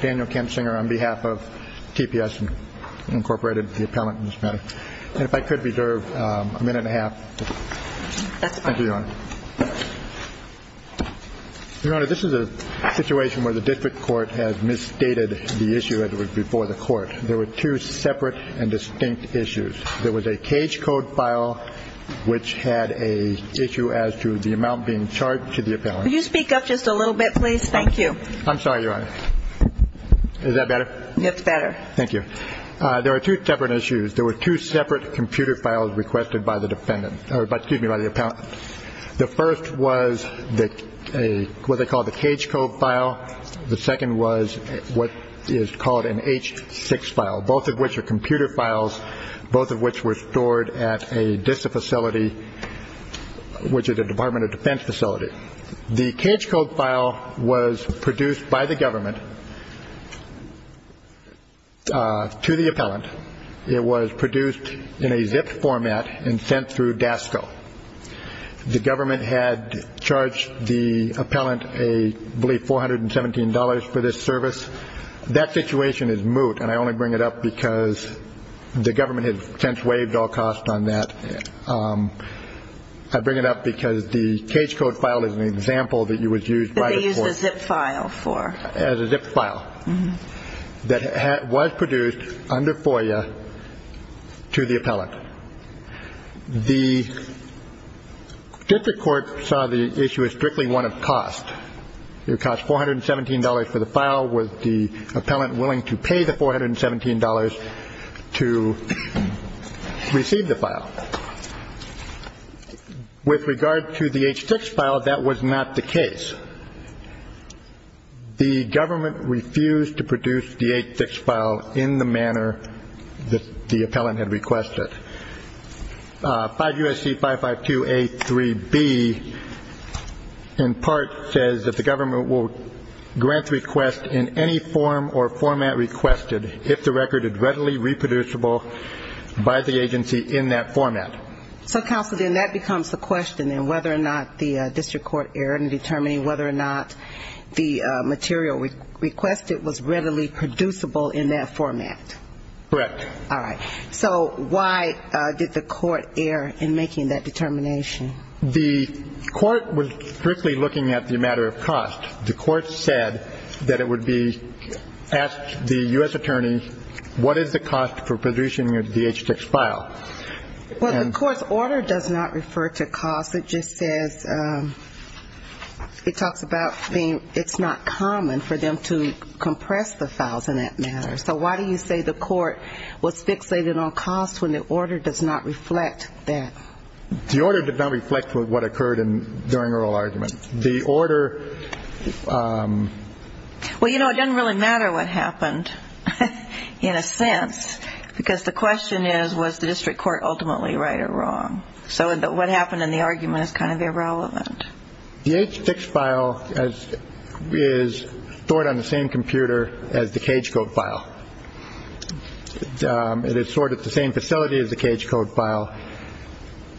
Daniel Kensinger on behalf of TPS, Inc., the appellant in this matter. And if I could reserve a minute and a half. That's fine. Thank you, Your Honor. Your Honor, this is a situation where the district court has misstated the issue as it was before the court. There were two separate and distinct issues. There was a cage code file which had an issue as to the amount being charged to the appellant. Could you speak up just a little bit, please? Thank you. I'm sorry, Your Honor. Is that better? It's better. Thank you. There were two separate issues. There were two separate computer files requested by the defendant. Excuse me, by the appellant. The first was what they call the cage code file. The second was what is called an H6 file, both of which are computer files, both of which were stored at a DISA facility, which is a Department of Defense facility. The cage code file was produced by the government to the appellant. It was produced in a zipped format and sent through DASCO. The government had charged the appellant, I believe, $417 for this service. That situation is moot, and I only bring it up because the government has since waived all costs on that. I bring it up because the cage code file is an example that you would use by the court. That they used a zipped file for. As a zipped file that was produced under FOIA to the appellant. The district court saw the issue as strictly one of cost. It cost $417 for the file. Was the appellant willing to pay the $417 to receive the file? With regard to the H6 file, that was not the case. The government refused to produce the H6 file in the manner that the appellant had requested. 5 U.S.C. 552A3B, in part, says that the government will grant the request in any form or format requested, if the record is readily reproducible by the agency in that format. So, Counsel, then that becomes the question, then, whether or not the district court erred in determining whether or not the material requested was readily producible in that format. Correct. All right. So, why did the court err in making that determination? The court was strictly looking at the matter of cost. The court said that it would be, asked the U.S. attorney, what is the cost for producing the H6 file? Well, the court's order does not refer to cost. It just says, it talks about being, it's not common for them to compress the files in that matter. So, why do you say the court was fixated on cost when the order does not reflect that? The order did not reflect what occurred during oral argument. The order... Well, you know, it doesn't really matter what happened, in a sense, because the question is, was the district court ultimately right or wrong? So, what happened in the argument is kind of irrelevant. The H6 file is stored on the same computer as the CAGE code file. It is stored at the same facility as the CAGE code file.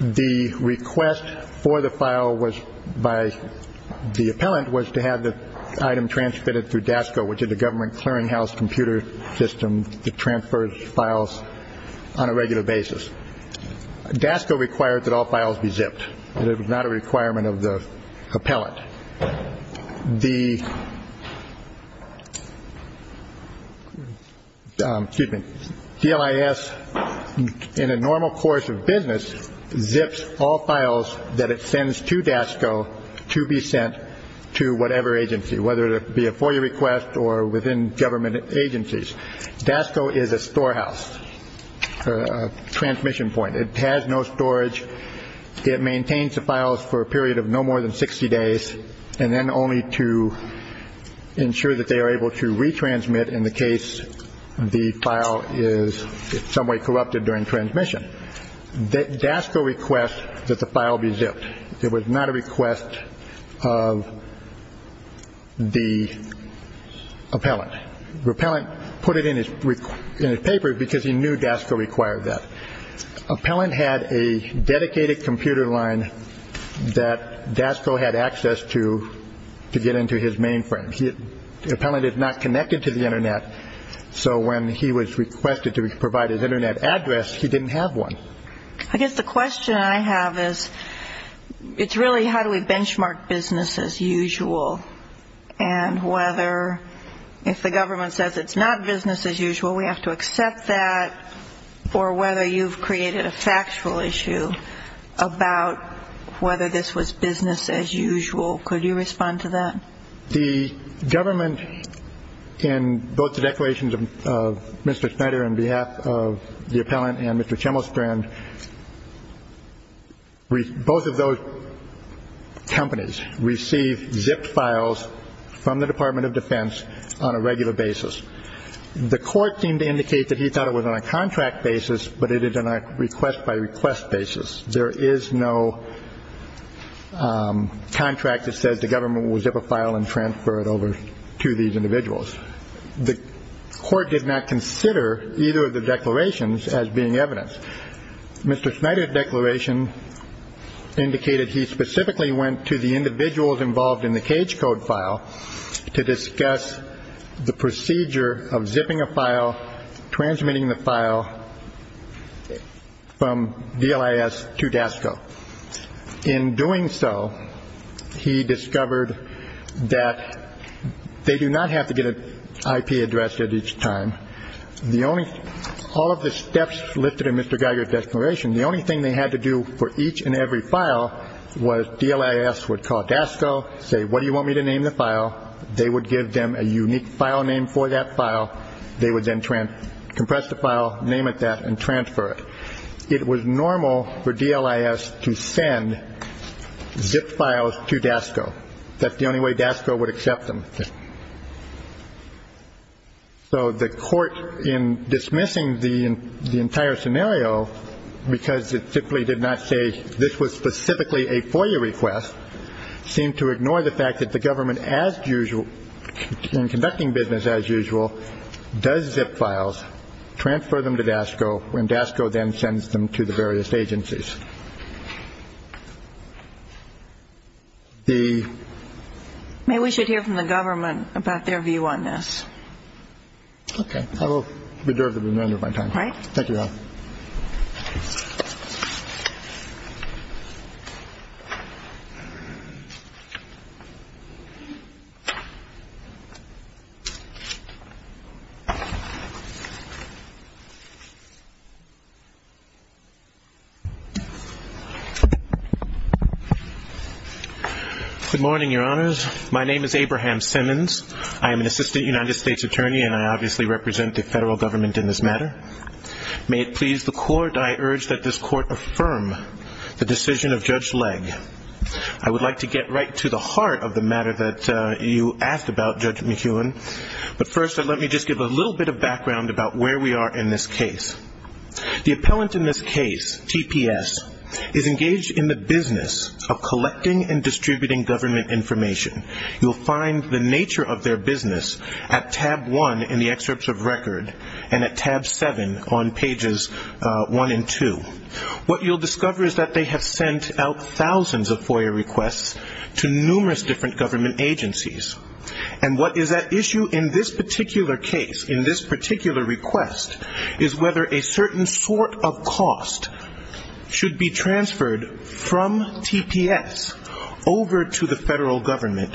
The request for the file was by, the appellant was to have the item transmitted through DASCO, which is a government clearinghouse computer system that transfers files on a regular basis. DASCO required that all files be zipped. It was not a requirement of the appellant. The, excuse me, DLIS, in a normal course of business, zips all files that it sends to DASCO to be sent to whatever agency, whether it be a FOIA request or within government agencies. DASCO is a storehouse, a transmission point. It has no storage. It maintains the files for a period of no more than 60 days, and then only to ensure that they are able to retransmit in the case the file is in some way corrupted during transmission. DASCO requests that the file be zipped. It was not a request of the appellant. The appellant put it in his paper because he knew DASCO required that. The appellant had a dedicated computer line that DASCO had access to to get into his mainframe. The appellant is not connected to the Internet, so when he was requested to provide his Internet address, he didn't have one. I guess the question I have is, it's really how do we benchmark business as usual and whether if the government says it's not business as usual, we have to accept that, or whether you've created a factual issue about whether this was business as usual. Could you respond to that? The government, in both the declarations of Mr. Schneider on behalf of the appellant and Mr. Chemostrand, both of those companies receive zipped files from the Department of Defense on a regular basis. The court seemed to indicate that he thought it was on a contract basis, but it is on a request-by-request basis. There is no contract that says the government will zip a file and transfer it over to these individuals. The court did not consider either of the declarations as being evidence. Mr. Schneider's declaration indicated he specifically went to the individuals involved in the cage code file to discuss the procedure of zipping a file, transmitting the file from DLIS to DASCO. In doing so, he discovered that they do not have to get an IP address at each time. All of the steps listed in Mr. Geiger's declaration, the only thing they had to do for each and every file was DLIS would call DASCO, say, what do you want me to name the file? They would give them a unique file name for that file. They would then compress the file, name it that, and transfer it. It was normal for DLIS to send zip files to DASCO. That's the only way DASCO would accept them. So the court, in dismissing the entire scenario because it simply did not say this was specifically a FOIA request, seemed to ignore the fact that the government, as usual, in conducting business as usual, does zip files, transfer them to DASCO, and DASCO then sends them to the various agencies. The ‑‑ May we should hear from the government about their view on this. Okay. I will reserve the remainder of my time. All right. Thank you, Your Honor. Good morning, Your Honors. My name is Abraham Simmons. I am an assistant United States attorney, and I obviously represent the federal government in this matter. I urge that this court affirm the decision of Judge Legge. I would like to get right to the heart of the matter that you asked about, Judge McKeown, but first let me just give a little bit of background about where we are in this case. The appellant in this case, TPS, is engaged in the business of collecting and distributing government information. You will find the nature of their business at tab 1 in the excerpts of record and at tab 7 on pages 1 and 2. What you will discover is that they have sent out thousands of FOIA requests to numerous different government agencies, and what is at issue in this particular case, in this particular request, is whether a certain sort of cost should be transferred from TPS over to the federal government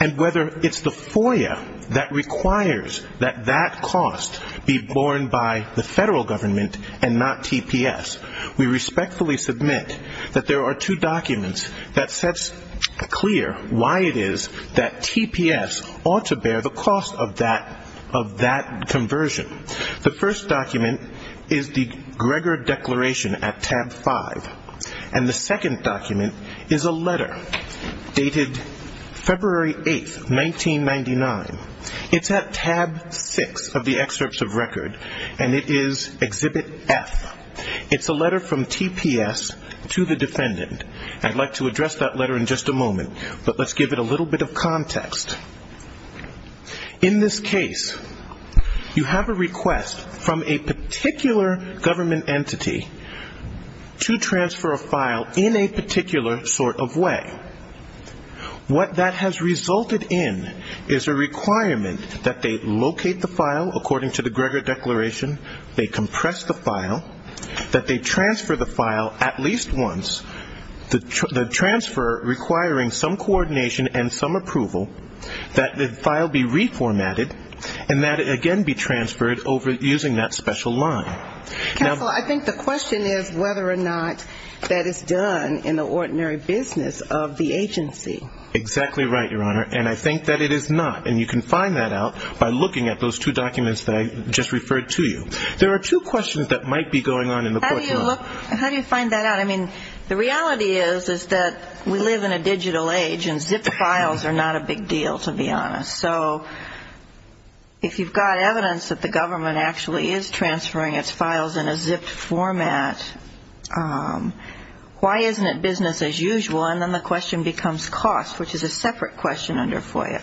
and whether it's the FOIA that requires that that cost be borne by the federal government and not TPS. We respectfully submit that there are two documents that sets clear why it is that TPS ought to bear the cost of that conversion. The first document is the Gregor Declaration at tab 5, and the second document is a letter dated February 8, 1999. It's at tab 6 of the excerpts of record, and it is Exhibit F. It's a letter from TPS to the defendant. I'd like to address that letter in just a moment, but let's give it a little bit of context. In this case, you have a request from a particular government entity to transfer a file in a particular sort of way. What that has resulted in is a requirement that they locate the file according to the Gregor Declaration, they compress the file, that they transfer the file at least once, the transfer requiring some coordination and some approval that the file be reformatted and that it again be transferred over using that special line. Counsel, I think the question is whether or not that is done in the ordinary business of the agency. Exactly right, Your Honor, and I think that it is not. And you can find that out by looking at those two documents that I just referred to you. There are two questions that might be going on in the courtroom. How do you find that out? I mean, the reality is that we live in a digital age, and zipped files are not a big deal, to be honest. So if you've got evidence that the government actually is transferring its files in a zipped format, why isn't it business as usual? And then the question becomes cost, which is a separate question under FOIA.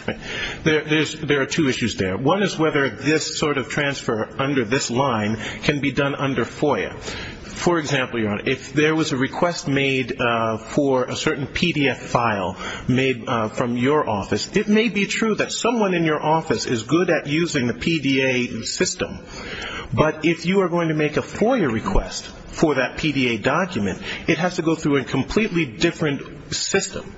There are two issues there. One is whether this sort of transfer under this line can be done under FOIA. For example, Your Honor, if there was a request made for a certain PDF file made from your office, it may be true that someone in your office is good at using the PDA system, but if you are going to make a FOIA request for that PDA document, it has to go through a completely different system.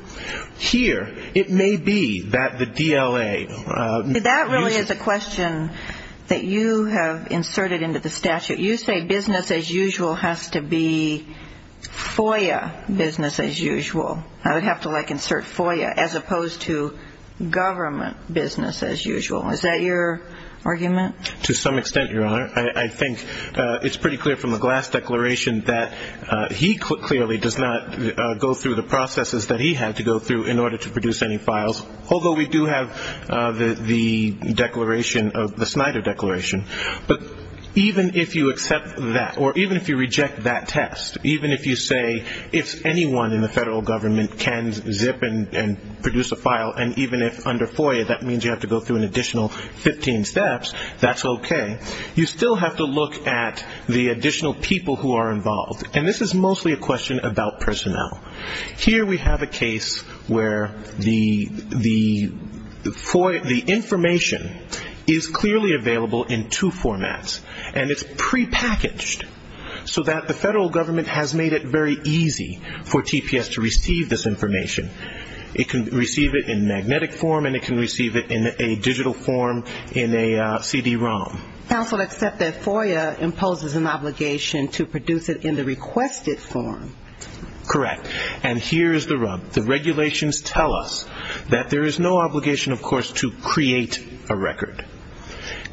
Here, it may be that the DLA uses the PDA system. That really is a question that you have inserted into the statute. You say business as usual has to be FOIA business as usual. I would have to, like, insert FOIA as opposed to government business as usual. Is that your argument? To some extent, Your Honor. I think it's pretty clear from the Glass Declaration that he clearly does not go through the processes that he had to go through in order to produce any files, although we do have the Snyder Declaration. But even if you accept that, or even if you reject that test, even if you say if anyone in the federal government can zip and produce a file, and even if under FOIA that means you have to go through an additional 15 steps, that's okay. You still have to look at the additional people who are involved. And this is mostly a question about personnel. Here we have a case where the information is clearly available in two formats, and it's prepackaged so that the federal government has made it very easy for TPS to receive this information. It can receive it in magnetic form, and it can receive it in a digital form in a CD-ROM. Counsel, except that FOIA imposes an obligation to produce it in the requested form. Correct. And here is the rub. The regulations tell us that there is no obligation, of course, to create a record.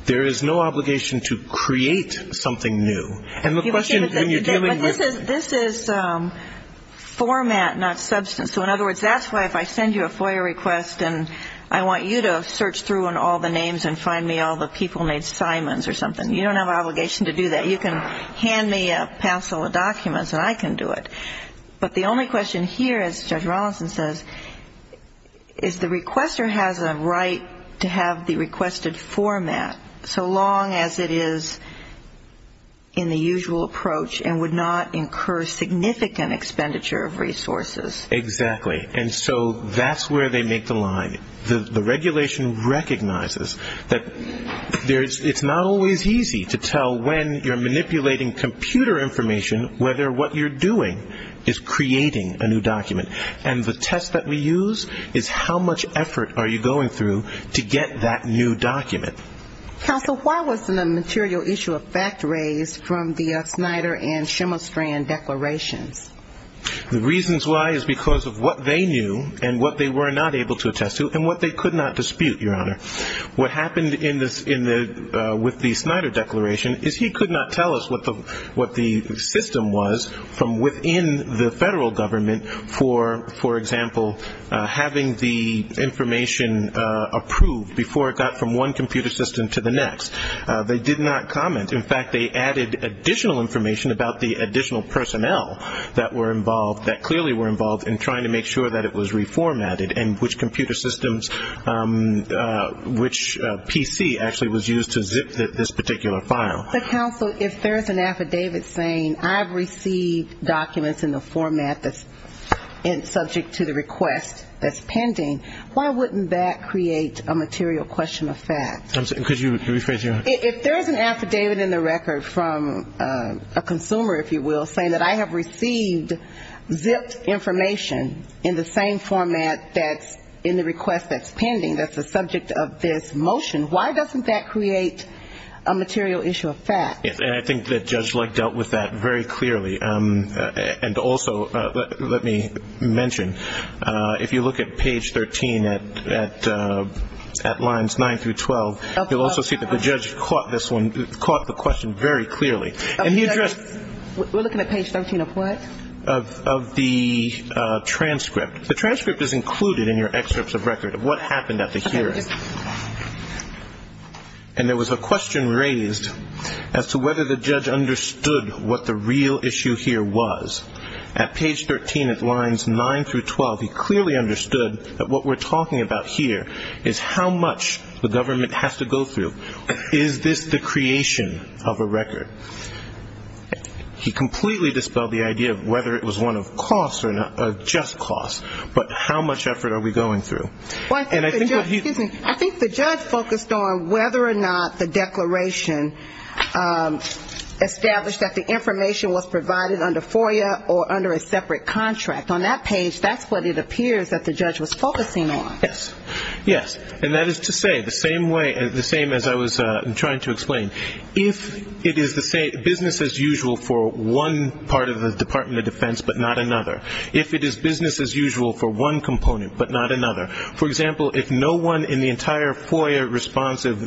There is no obligation to create something new. But this is format, not substance. So in other words, that's why if I send you a FOIA request and I want you to search through on all the names and find me all the people named Simons or something, you don't have an obligation to do that. You can hand me a parcel of documents and I can do it. But the only question here, as Judge Rollinson says, is the requester has a right to have the requested format, so long as it is in the usual approach and would not incur significant expenditure of resources. Exactly. And so that's where they make the line. The regulation recognizes that it's not always easy to tell when you're manipulating computer information whether what you're doing is creating a new document. And the test that we use is how much effort are you going through to get that new document. Counsel, why wasn't a material issue of fact raised from the Snyder and Shimmelstrand declarations? The reasons why is because of what they knew and what they were not able to attest to and what they could not dispute, Your Honor. What happened with the Snyder declaration is he could not tell us what the system was from within the federal government for, for example, having the information approved before it got from one computer system to the next. They did not comment. In fact, they added additional information about the additional personnel that were involved, that clearly were involved in trying to make sure that it was reformatted and which computer systems, which PC actually was used to zip this particular file. But, counsel, if there's an affidavit saying I've received documents in the format that's subject to the request that's pending, why wouldn't that create a material question of fact? Could you rephrase, Your Honor? If there's an affidavit in the record from a consumer, if you will, saying that I have received zipped information in the same format that's in the request that's pending, that's the subject of this motion, why doesn't that create a material issue of fact? And I think that Judge Leck dealt with that very clearly. And also, let me mention, if you look at page 13 at lines 9 through 12, you'll also see that the judge caught this one, caught the question very clearly. We're looking at page 13 of what? Of the transcript. The transcript is included in your excerpts of record of what happened at the hearing. And there was a question raised as to whether the judge understood what the real issue here was. At page 13 at lines 9 through 12, he clearly understood that what we're talking about here is how much the government has to go through. Is this the creation of a record? He completely dispelled the idea of whether it was one of cost or just cost, but how much effort are we going through? I think the judge focused on whether or not the declaration established that the information was provided under FOIA or under a separate contract. On that page, that's what it appears that the judge was focusing on. Yes. And that is to say the same as I was trying to explain. If it is business as usual for one part of the Department of Defense but not another. If it is business as usual for one component but not another. For example, if no one in the entire FOIA responsive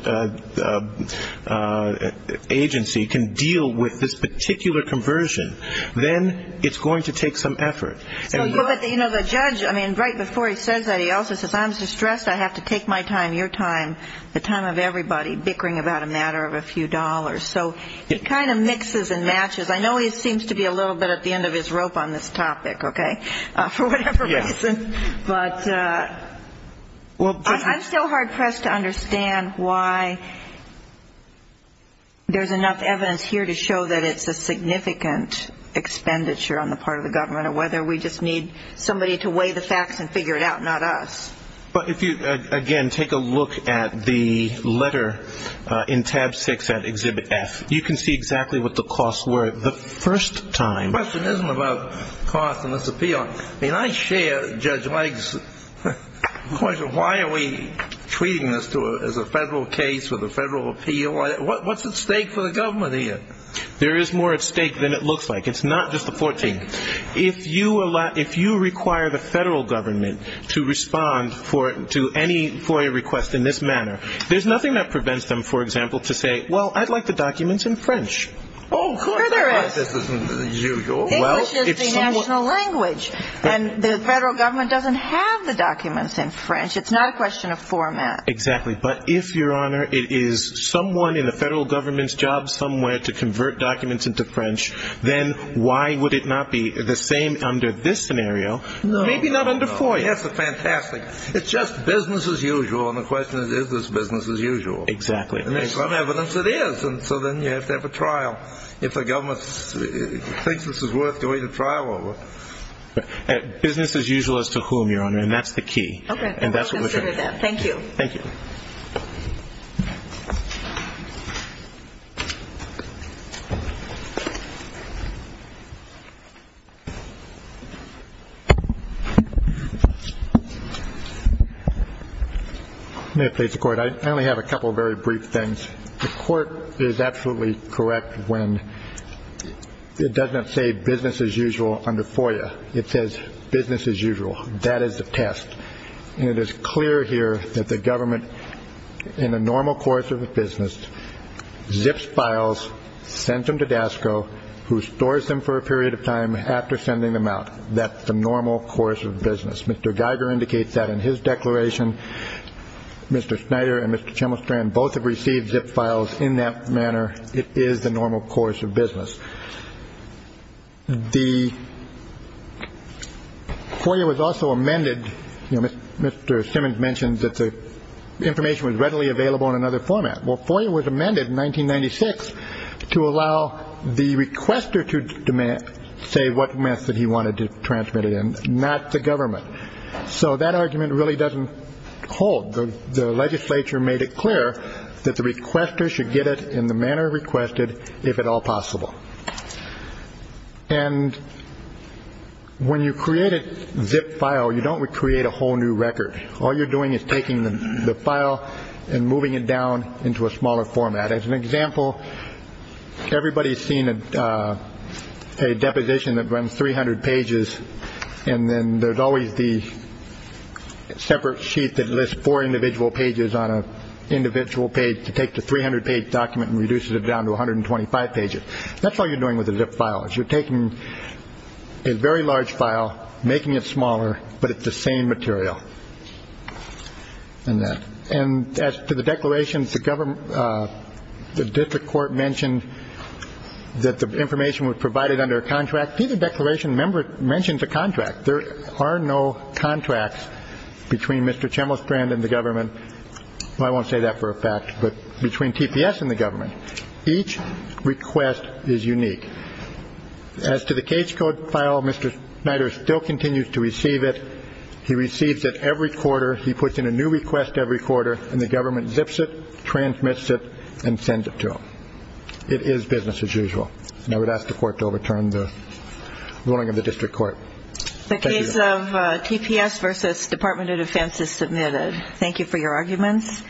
agency can deal with this particular conversion, then it's going to take some effort. But, you know, the judge, I mean, right before he says that, he also says I'm distressed, I have to take my time, your time, the time of everybody bickering about a matter of a few dollars. So it kind of mixes and matches. I know it seems to be a little bit at the end of his rope on this topic, okay, for whatever reason. Yes. But I'm still hard pressed to understand why there's enough evidence here to show that it's a significant expenditure on the part of the government or whether we just need somebody to weigh the facts and figure it out, not us. But if you, again, take a look at the letter in tab six at exhibit F, you can see exactly what the costs were the first time. The question isn't about costs in this appeal. I mean, I share Judge Legg's question. Why are we treating this as a federal case with a federal appeal? What's at stake for the government here? There is more at stake than it looks like. It's not just the 14th. If you require the federal government to respond to any FOIA request in this manner, there's nothing that prevents them, for example, to say, well, I'd like the documents in French. Oh, of course. English is the national language. And the federal government doesn't have the documents in French. It's not a question of format. Exactly. But if, Your Honor, it is someone in the federal government's job somewhere to convert documents into French, then why would it not be the same under this scenario? Maybe not under FOIA. That's fantastic. It's just business as usual. And the question is, is this business as usual? Exactly. And there's some evidence it is. And so then you have to have a trial if the government thinks this is worth going to trial over. Business as usual as to whom, Your Honor, and that's the key. Okay. We'll consider that. Thank you. Thank you. Thank you. May it please the Court. I only have a couple of very brief things. The Court is absolutely correct when it does not say business as usual under FOIA. It says business as usual. That is the test. And it is clear here that the government, in the normal course of a business, zips files, sends them to DASCO, who stores them for a period of time after sending them out. That's the normal course of business. Mr. Geiger indicates that in his declaration. Mr. Schneider and Mr. Chemelstrand both have received zipped files in that manner. It is the normal course of business. The FOIA was also amended. Mr. Simmons mentioned that the information was readily available in another format. Well, FOIA was amended in 1996 to allow the requester to say what method he wanted to transmit it in, not the government. So that argument really doesn't hold. The legislature made it clear that the requester should get it in the manner requested, if at all possible. And when you create a zipped file, you don't create a whole new record. All you're doing is taking the file and moving it down into a smaller format. As an example, everybody's seen a deposition that runs 300 pages, and then there's always the separate sheet that lists four individual pages on an individual page to take the 300-page document and reduces it down to 125 pages. That's all you're doing with a zipped file, is you're taking a very large file, making it smaller, but it's the same material. And as to the declarations, the district court mentioned that the information was provided under a contract. Each declaration mentions a contract. There are no contracts between Mr. Chemlestrand and the government. Well, I won't say that for a fact, but between TPS and the government. Each request is unique. As to the case code file, Mr. Schneider still continues to receive it. He receives it every quarter. He puts in a new request every quarter, and the government zips it, transmits it, and sends it to him. It is business as usual. And I would ask the court to overturn the ruling of the district court. Thank you. The case of TPS v. Department of Defense is submitted. Thank you for your arguments.